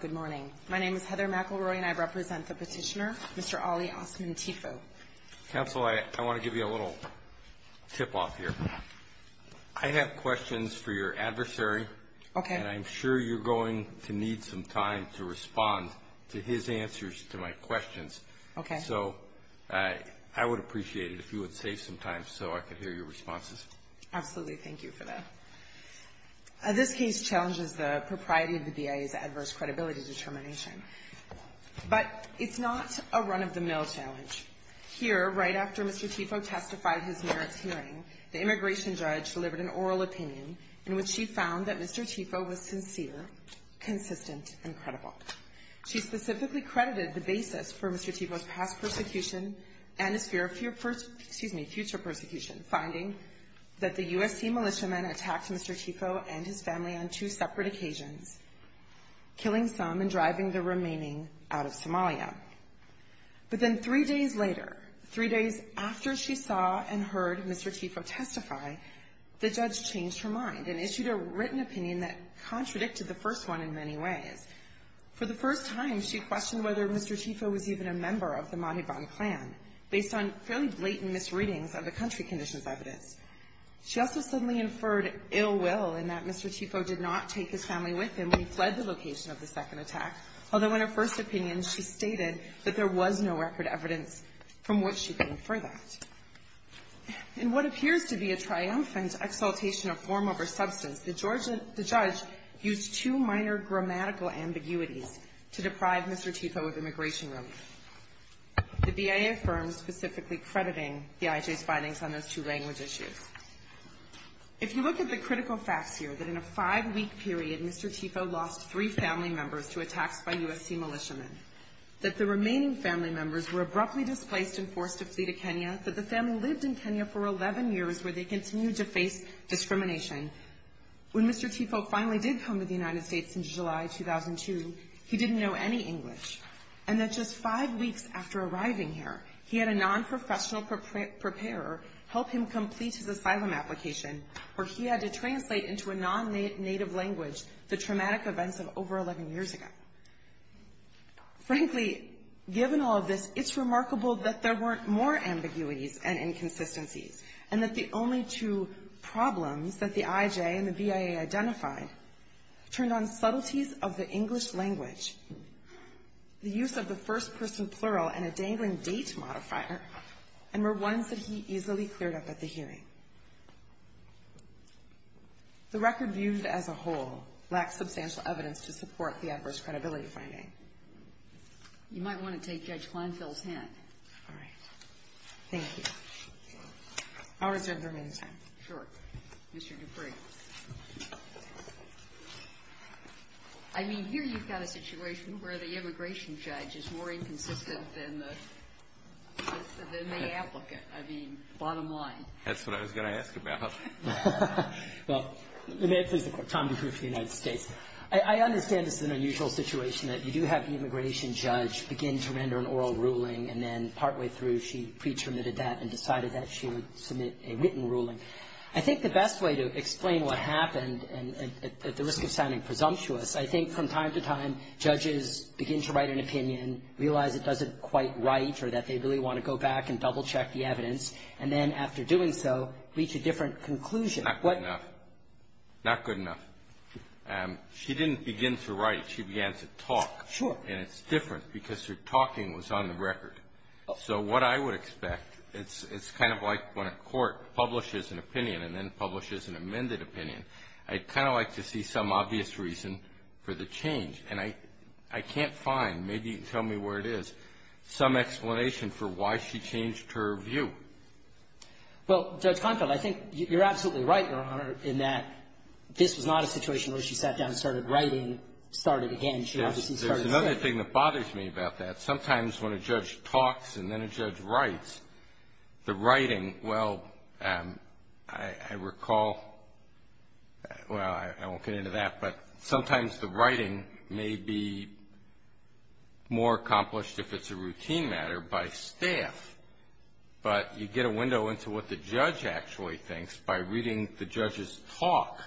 Good morning. My name is Heather McElroy and I represent the petitioner, Mr. Ali Osman Tifow. Counsel, I want to give you a little tip-off here. I have questions for your adversary and I'm sure you're going to need some time to respond to his answers to my questions. Okay. So I would appreciate it if you would save some time so I could hear your responses. Absolutely. Thank you for that. This case challenges the propriety of the BIA's adverse credibility determination, but it's not a run-of-the-mill challenge. Here, right after Mr. Tifow testified in his merits hearing, the immigration judge delivered an oral opinion in which she found that Mr. Tifow was sincere, consistent, and credible. She specifically credited the basis for Mr. Tifow's past persecution and his future persecution, finding that the USC militiamen attacked Mr. Tifow and his family on two separate occasions, killing some and driving the remaining out of Somalia. But then three days later, three days after she saw and heard Mr. Tifow testify, the judge changed her mind and issued a written opinion that contradicted the first one in many ways. For the first time, she questioned whether Mr. Tifow was even a member of the Mahiban clan, based on fairly blatant misreadings of the country conditions evidence. She also suddenly inferred ill will in that Mr. Tifow did not take his family with him when he fled the location of the second attack, although in her first opinion she stated that there was no record evidence from which she could infer that. In what appears to be a triumphant exaltation of form over substance, the judge used two minor grammatical ambiguities to deprive Mr. Tifow of immigration relief, the BIA firm specifically crediting the IJ's findings on those two language issues. If you look at the critical facts here, that in a five-week period, Mr. Tifow lost three family members to attacks by USC militiamen, that the remaining family members were abruptly displaced and forced to flee to Kenya, that the family lived in Kenya for 11 years where they continued to face discrimination, when Mr. Tifow finally did come to the United States in July 2002, he didn't know any English, and that just five weeks after arriving here, he had a non-professional preparer help him complete his asylum application, where he had to translate into a non-native language the traumatic events of over 11 years ago. Frankly, given all of this, it's remarkable that there weren't more ambiguities and inconsistencies, and that the only two problems that the IJ and the BIA identified turned on subtleties of the English language, the use of the first-person plural and a dangling date modifier, and were ones that he easily cleared up at the hearing. The record viewed as a whole lacks substantial evidence to support the adverse credibility finding. You might want to take Judge Kleinfeld's hand. All right. Thank you. I'll reserve the remaining time. Sure. Mr. Dupree. I mean, here you've got a situation where the immigration judge is more inconsistent than the applicant. I mean, bottom line. That's what I was going to ask about. Well, may it please the Court. Tom Dupree for the United States. I understand this is an unusual situation, that you do have the immigration judge begin to render an oral ruling, and then partway through she pre-terminated that and decided that she would submit a written ruling. I think the best way to explain what happened, and at the risk of sounding presumptuous, I think from time to time judges begin to write an opinion, realize it doesn't quite write, or that they really want to go back and double-check the evidence, and then after doing so reach a different conclusion. Not good enough. Not good enough. She didn't begin to write it. She began to talk. Sure. And it's different because her talking was on the record. So what I would expect, it's kind of like when a court publishes an opinion and then publishes an amended opinion. I'd kind of like to see some obvious reason for the change, and I can't find, maybe you can tell me where it is, some explanation for why she changed her view. Well, Judge Konfield, I think you're absolutely right, Your Honor, in that this was not a situation where she sat down and started writing, started again. She obviously started saying it. Yes. There's another thing that bothers me about that. Sometimes when a judge talks and then a judge writes, the writing, well, I recall Well, I won't get into that, but sometimes the writing may be more accomplished, if it's a routine matter, by staff. But you get a window into what the judge actually thinks by reading the judge's talk.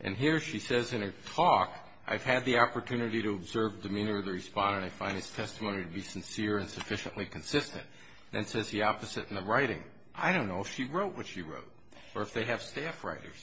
And here she says in her talk, I've had the opportunity to observe the demeanor of the respondent. I find his testimony to be sincere and sufficiently consistent. Then it says the opposite in the writing. I don't know if she wrote what she wrote or if they have staff writers.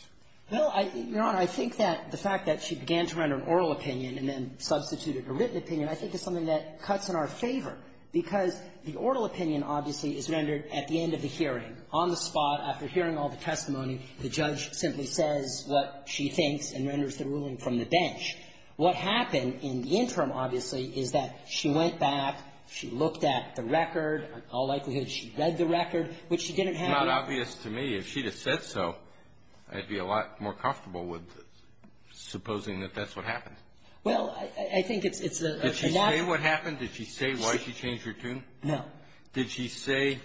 Well, Your Honor, I think that the fact that she began to render an oral opinion and then substituted a written opinion I think is something that cuts in our favor because the oral opinion obviously is rendered at the end of the hearing, on the spot. After hearing all the testimony, the judge simply says what she thinks and renders the ruling from the bench. What happened in the interim, obviously, is that she went back. She looked at the record. All likelihood, she read the record, which she didn't have. It's not obvious to me. If she had said so, I'd be a lot more comfortable with supposing that that's what happened. Well, I think it's a matter of ---- Did she say what happened? Did she say why she changed her tune? No. Did she say,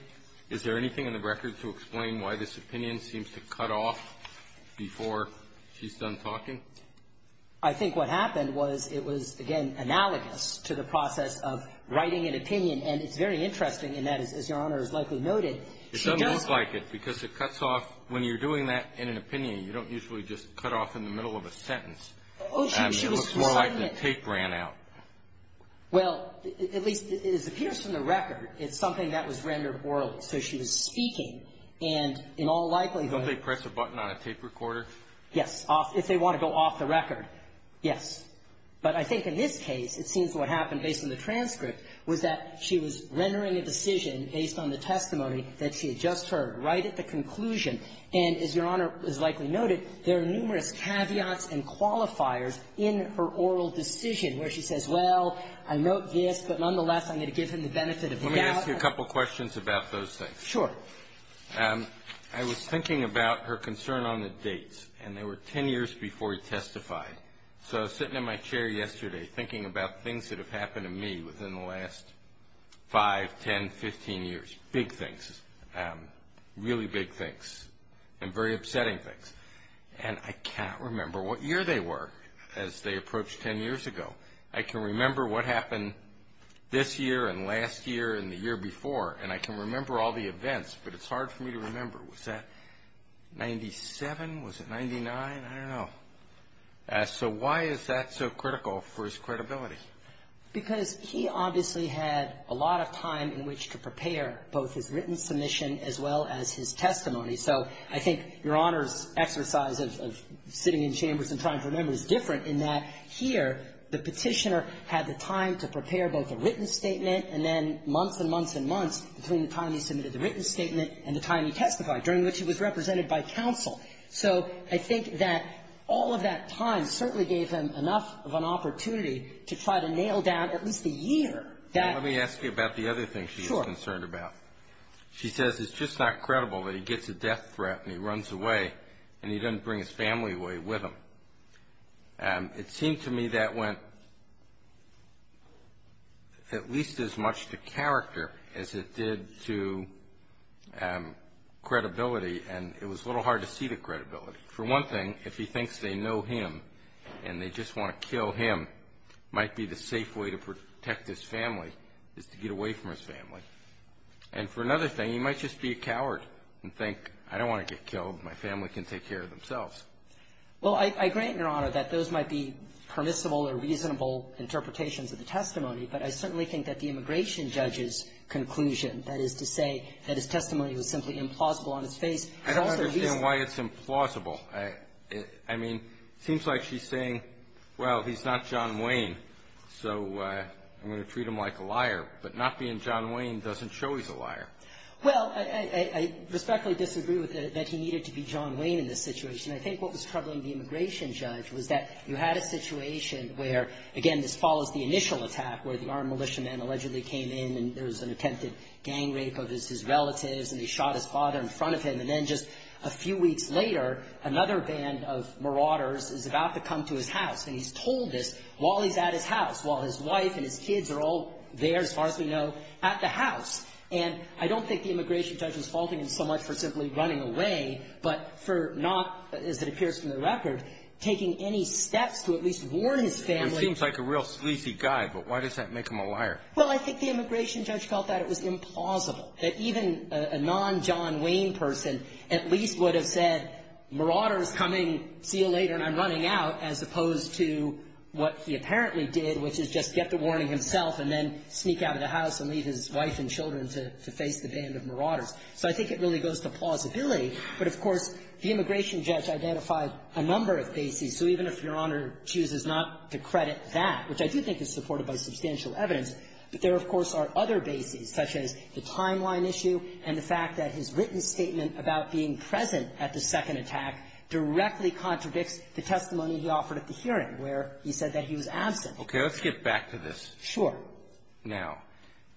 is there anything in the record to explain why this opinion seems to cut off before she's done talking? I think what happened was it was, again, analogous to the process of writing an opinion. And it's very interesting in that, as Your Honor has likely noted, it doesn't look like it because it cuts off when you're doing that in an opinion. You don't usually just cut off in the middle of a sentence. It looks more like the tape ran out. Well, at least it appears from the record it's something that was rendered oral. So she was speaking, and in all likelihood ---- Don't they press a button on a tape recorder? Yes. If they want to go off the record, yes. But I think in this case, it seems what happened based on the transcript was that she was rendering a decision based on the testimony that she had just heard right at the conclusion. And as Your Honor has likely noted, there are numerous caveats and qualifiers in her oral decision where she says, well, I note this, but nonetheless I'm going to give him the benefit of the doubt. Let me ask you a couple questions about those things. Sure. I was thinking about her concern on the dates, and they were ten years before he testified. So I was sitting in my chair yesterday thinking about things that have happened to me within the last five, ten, fifteen years. Big things, really big things, and very upsetting things. And I can't remember what year they were as they approached ten years ago. I can remember what happened this year and last year and the year before, and I can remember all the events, but it's hard for me to remember. Was that 97? Was it 99? I don't know. So why is that so critical for his credibility? Because he obviously had a lot of time in which to prepare both his written submission as well as his testimony. So I think Your Honor's exercise of sitting in chambers and trying to remember is different in that here the Petitioner had the time to prepare both a written statement and then months and months and months between the time he submitted the written statement and the time he testified, during which he was represented by counsel. So I think that all of that time certainly gave him enough of an opportunity to try to nail down at least a year. Let me ask you about the other thing she was concerned about. Sure. She says it's just not credible that he gets a death threat and he runs away and he doesn't bring his family with him. It seemed to me that went at least as much to character as it did to credibility, and it was a little hard to see the credibility. For one thing, if he thinks they know him and they just want to kill him, it might be the safe way to protect his family is to get away from his family. And for another thing, he might just be a coward and think, I don't want to get killed. My family can take care of themselves. Well, I agree, Your Honor, that those might be permissible or reasonable interpretations of the testimony, but I certainly think that the immigration judge's conclusion, that is to say that his testimony was simply implausible on its face. I don't understand why it's implausible. I mean, it seems like she's saying, well, he's not John Wayne, so I'm going to treat him like a liar. But not being John Wayne doesn't show he's a liar. Well, I respectfully disagree that he needed to be John Wayne in this situation. I think what was troubling the immigration judge was that you had a situation where, again, this follows the initial attack where the armed militiaman allegedly came in and there was an attempted gang rape of his relatives and he shot his father in front of him. And then just a few weeks later, another band of marauders is about to come to his house, and he's told this while he's at his house, while his wife and his kids are all there, as far as we know, at the house. And I don't think the immigration judge was faulting him so much for simply running away, but for not, as it appears from the record, taking any steps to at least warn his family. Well, I think the immigration judge felt that it was implausible that even a non-John Wayne person at least would have said, marauders coming, see you later, and I'm running out, as opposed to what he apparently did, which is just get the warning himself and then sneak out of the house and leave his wife and children to face the band of marauders. So I think it really goes to plausibility. But, of course, the immigration judge identified a number of bases. So even if Your Honor chooses not to credit that, which I do think is supported by substantial evidence, but there, of course, are other bases, such as the timeline issue and the fact that his written statement about being present at the second attack directly contradicts the testimony he offered at the hearing, where he said that he was absent. Okay. Let's get back to this. Sure. Now,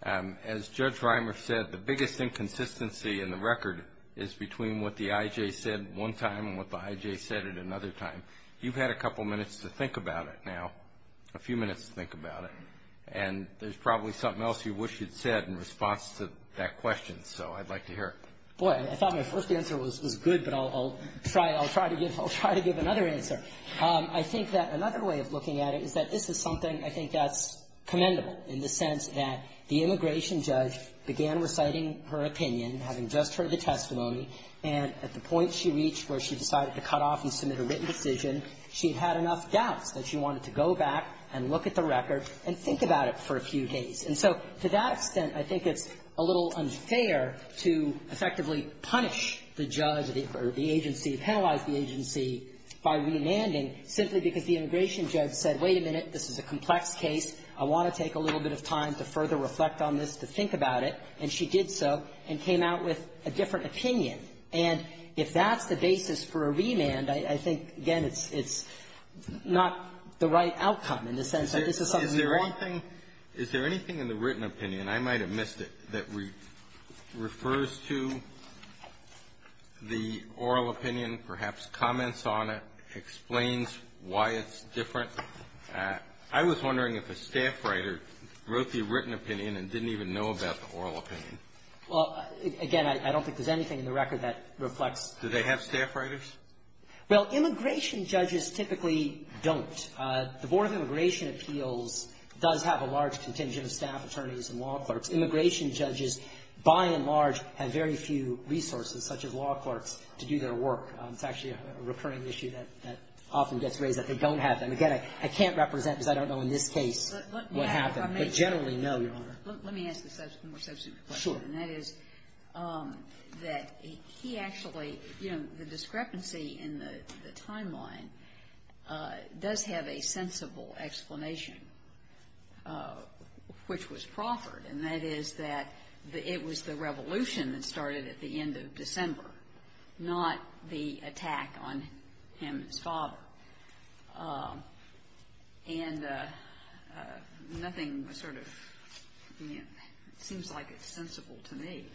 as Judge Reimer said, the biggest inconsistency in the record is between what the I.J. said one time and what the I.J. said at another time. You've had a couple minutes to think about it now, a few minutes to think about it. And there's probably something else you wish you'd said in response to that question. So I'd like to hear it. Boy, I thought my first answer was good, but I'll try to give another answer. I think that another way of looking at it is that this is something I think that's commendable in the sense that the immigration judge began reciting her opinion, having just heard the had enough doubts that she wanted to go back and look at the record and think about it for a few days. And so to that extent, I think it's a little unfair to effectively punish the judge or the agency, penalize the agency by remanding simply because the immigration judge said, wait a minute, this is a complex case. I want to take a little bit of time to further reflect on this, to think about it. And she did so and came out with a different opinion. And if that's the basis for a remand, I think, again, it's not the right outcome in the sense that this is something that's correct. Is there anything in the written opinion, and I might have missed it, that refers to the oral opinion, perhaps comments on it, explains why it's different? I was wondering if a staff writer wrote the written opinion and didn't even know about the oral opinion. Well, again, I don't think there's anything in the record that reflects. Do they have staff writers? Well, immigration judges typically don't. The Board of Immigration Appeals does have a large contingent of staff attorneys and law clerks. Immigration judges, by and large, have very few resources, such as law clerks, to do their work. It's actually a recurring issue that often gets raised, that they don't have them. Again, I can't represent because I don't know in this case what happened. But generally, no, Your Honor. Let me ask a more substantive question. Sure. And that is that he actually, you know, the discrepancy in the timeline does have a sensible explanation, which was proffered, and that is that it was the revolution that started at the end of December, not the attack on Hammond's father. And nothing sort of seems like it's sensible to me.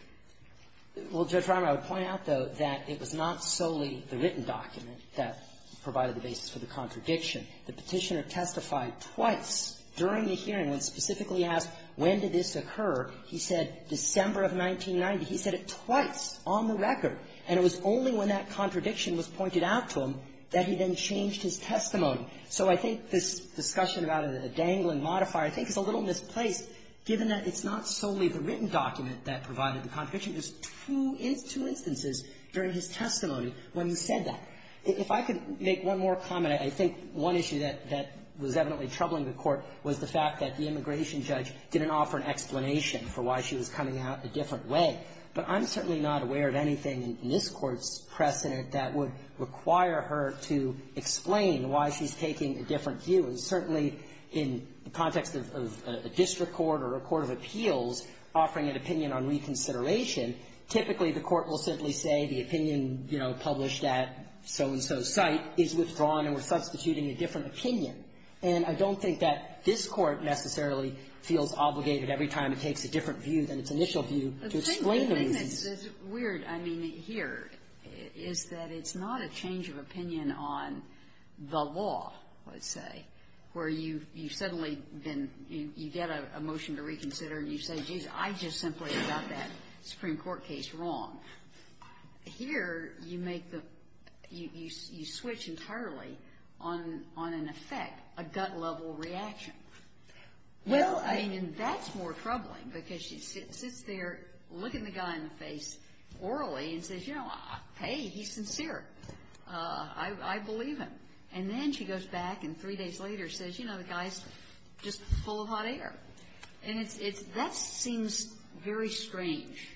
Well, Judge Reimer, I would point out, though, that it was not solely the written document that provided the basis for the contradiction. The Petitioner testified twice during the hearing when specifically asked when did this occur. He said December of 1990. He said it twice on the record. And it was only when that contradiction was pointed out to him that he then changed his testimony. So I think this discussion about a dangling modifier I think is a little misplaced given that it's not solely the written document that provided the contradiction. There's two instances during his testimony when he said that. If I could make one more comment, I think one issue that was evidently troubling the Court was the fact that the immigration judge didn't offer an explanation for why she was coming out a different way. But I'm certainly not aware of anything in this Court's precedent that would require her to explain why she's taking a different view. And certainly in the context of a district court or a court of appeals offering an opinion on reconsideration, typically the Court will simply say the opinion, you know, published at so-and-so site is withdrawn and we're substituting a different opinion. And I don't think that this Court necessarily feels obligated every time it takes a different view than its initial view to explain the reasons. The thing that's weird, I mean, here is that it's not a change of opinion on the law, let's say, where you've suddenly been you get a motion to reconsider and you say, geez, I just simply got that Supreme Court case wrong. Here you make the you switch entirely on an effect, a gut-level reaction. Well, I mean, that's more troubling because she sits there looking the guy in the face orally and says, you know, hey, he's sincere. I believe him. And then she goes back and three days later says, you know, the guy's just full of hot air. And that seems very strange.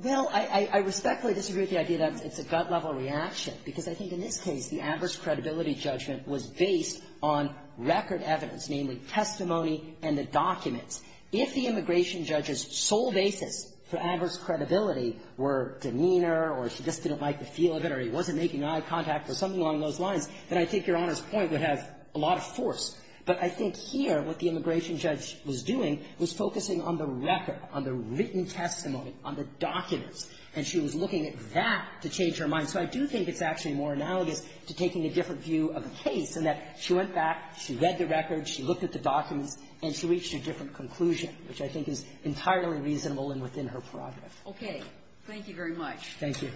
Well, I respectfully disagree with the idea that it's a gut-level reaction because I think in this case the adverse credibility judgment was based on record evidence, namely testimony and the documents. If the immigration judge's sole basis for adverse credibility were demeanor or she just didn't like the feel of it or he wasn't making eye contact or something along those lines, then I think Your Honor's point would have a lot of force. But I think here what the immigration judge was doing was focusing on the record, on the written testimony, on the documents. And she was looking at that to change her mind. So I do think it's actually more analogous to taking a different view of the case in that she went back, she read the record, she looked at the documents, and she reached a different conclusion, which I think is entirely reasonable and within her prerogative. Okay. Thank you very much. Thank you.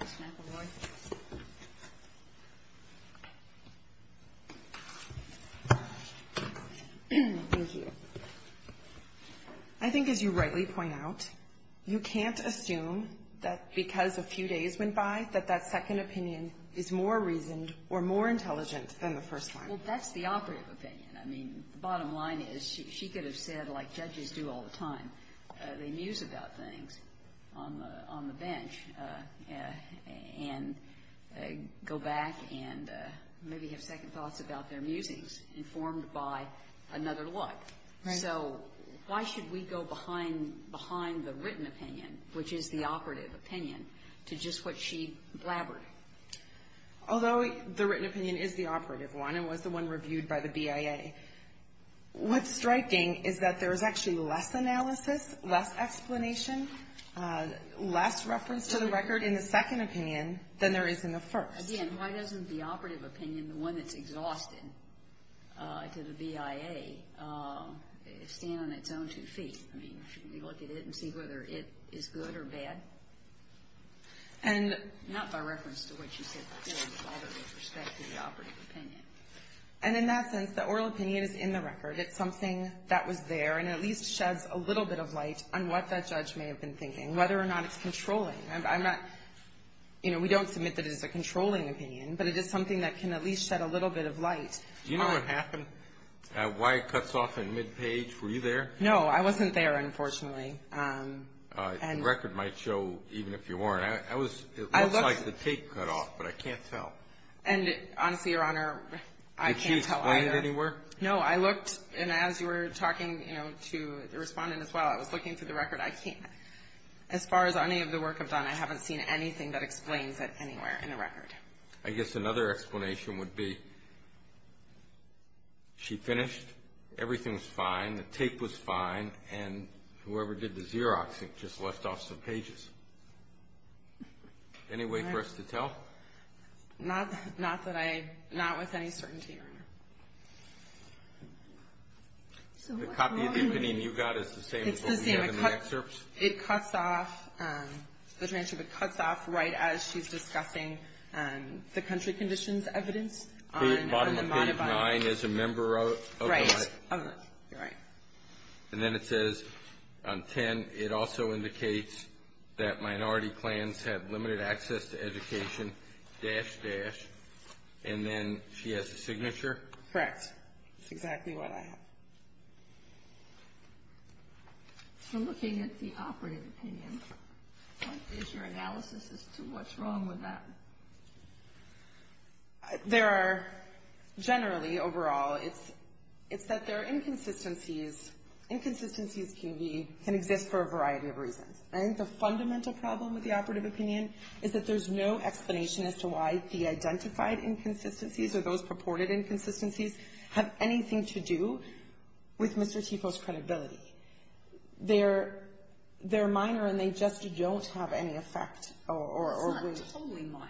Ms. McElroy. Thank you. I think as you rightly point out, you can't assume that because a few days went by that that second opinion is more reasoned or more intelligent than the first one. Well, that's the operative opinion. I mean, the bottom line is she could have said, like judges do all the time, they muse about things on the bench and go back and maybe have second thoughts about their musings informed by another look. Right. So why should we go behind the written opinion, which is the operative opinion, to just what she blabbered? Although the written opinion is the operative one and was the one reviewed by the BIA, what's striking is that there's actually less analysis, less explanation, less reference to the record in the second opinion than there is in the first. Again, why doesn't the operative opinion, the one that's exhausted to the BIA, stand on its own two feet? I mean, shouldn't we look at it and see whether it is good or bad? And not by reference to what you said earlier with all the respect to the operative opinion. And in that sense, the oral opinion is in the record. It's something that was there and at least sheds a little bit of light on what that judge may have been thinking, whether or not it's controlling. I'm not, you know, we don't submit that it is a controlling opinion, but it is something that can at least shed a little bit of light. Do you know what happened? Why it cuts off at mid-page? Were you there? No, I wasn't there, unfortunately. The record might show, even if you weren't. I was, it looks like the tape cut off, but I can't tell. And honestly, Your Honor, I can't tell either. Did she explain it anywhere? No, I looked, and as you were talking, you know, to the Respondent as well, I was looking through the record. But I can't, as far as any of the work I've done, I haven't seen anything that explains it anywhere in the record. I guess another explanation would be she finished, everything was fine, the tape was fine, and whoever did the Xeroxing just left off some pages. Any way for us to tell? The copy of the opinion you got is the same as what we have in the excerpts? It's the same. It cuts off, the transcript cuts off right as she's discussing the country conditions evidence. Bottom page 9 is a member of the line. Right. And then it says on 10, it also indicates that minority clans have limited access to education, dash, dash. And then she has a signature. Correct. It's exactly what I have. So looking at the operative opinion, what is your analysis as to what's wrong with that? There are generally, overall, it's that there are inconsistencies. Inconsistencies can exist for a variety of reasons. I think the fundamental problem with the operative opinion is that there's no explanation as to why the identified inconsistencies or those purported inconsistencies have anything to do with Mr. Tifo's credibility. They're minor and they just don't have any effect. It's not totally minor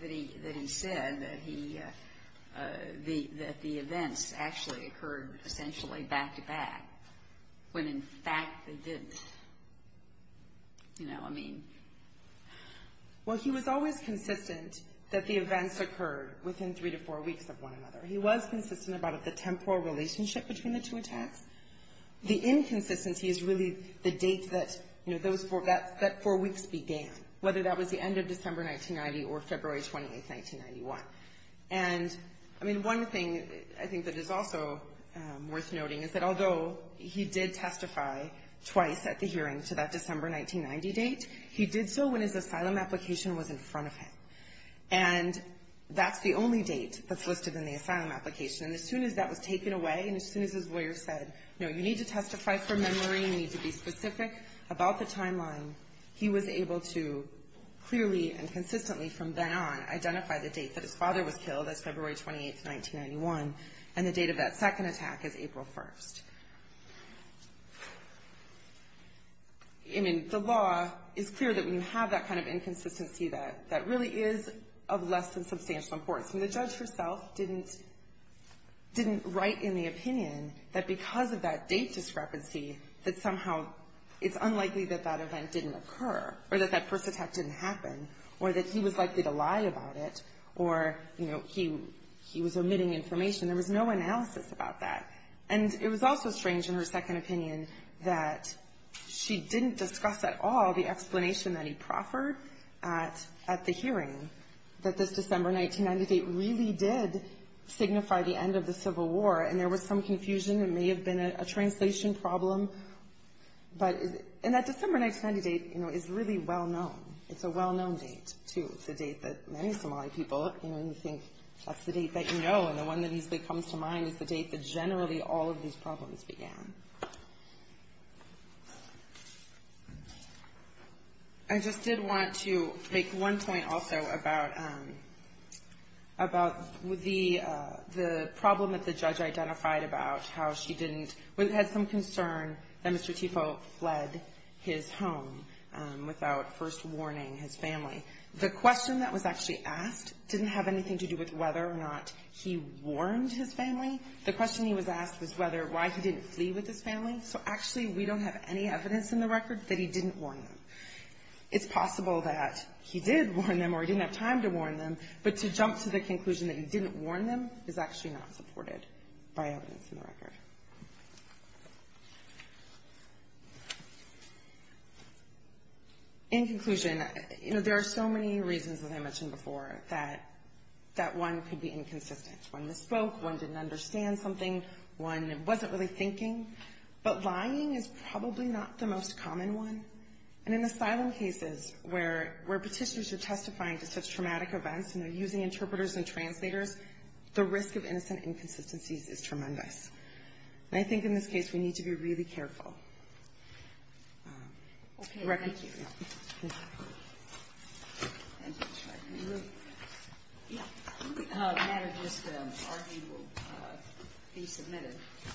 that he said that the events actually occurred essentially back-to-back when, in fact, they didn't. You know, I mean. Well, he was always consistent that the events occurred within three to four weeks of one another. He was consistent about the temporal relationship between the two attacks. The inconsistency is really the date that, you know, that four weeks began, whether that was the end of December 1990 or February 28th, 1991. And, I mean, one thing I think that is also worth noting is that although he did testify twice at the hearing to that December 1990 date, he did so when his asylum application was in front of him. And that's the only date that's listed in the asylum application. And as soon as that was taken away and as soon as his lawyer said, no, you need to testify from memory, you need to be specific about the timeline, he was able to clearly and consistently from then on identify the date that his father was killed, that's February 28th, 1991, and the date of that second attack is April 1st. I mean, the law is clear that when you have that kind of inconsistency, that really is of less than substantial importance. I mean, the judge herself didn't write in the opinion that because of that date discrepancy that somehow it's unlikely that that event didn't occur or that that first attack didn't happen or that he was likely to lie about it or, you know, he was omitting information. There was no analysis about that. And it was also strange in her second opinion that she didn't discuss at all the explanation that he proffered at the hearing, that this December 1998 really did signify the end of the Civil War. And there was some confusion. It may have been a translation problem. And that December 1998, you know, is really well-known. It's a well-known date, too. It's a date that many Somali people, you know, you think that's the date that you know, and the one that usually comes to mind is the date that generally all of these problems began. I just did want to make one point also about the problem that the judge identified about how she didn't or had some concern that Mr. Tipo fled his home without first warning his family. The question that was actually asked didn't have anything to do with whether or not he warned his family. The question he was asked was whether why he didn't flee with his family. So actually, we don't have any evidence in the record that he didn't warn them. It's possible that he did warn them or he didn't have time to warn them, but to jump to the conclusion that he didn't warn them is actually not supported by evidence in the record. In conclusion, you know, there are so many reasons, as I mentioned before, that one could be inconsistent. One misspoke. One didn't understand something. One wasn't really thinking. But lying is probably not the most common one. And in asylum cases where petitioners are testifying to such traumatic events and they're using interpreters and translators, the risk of innocent inconsistencies is tremendous. And I think in this case we need to be really careful. Okay. Thank you.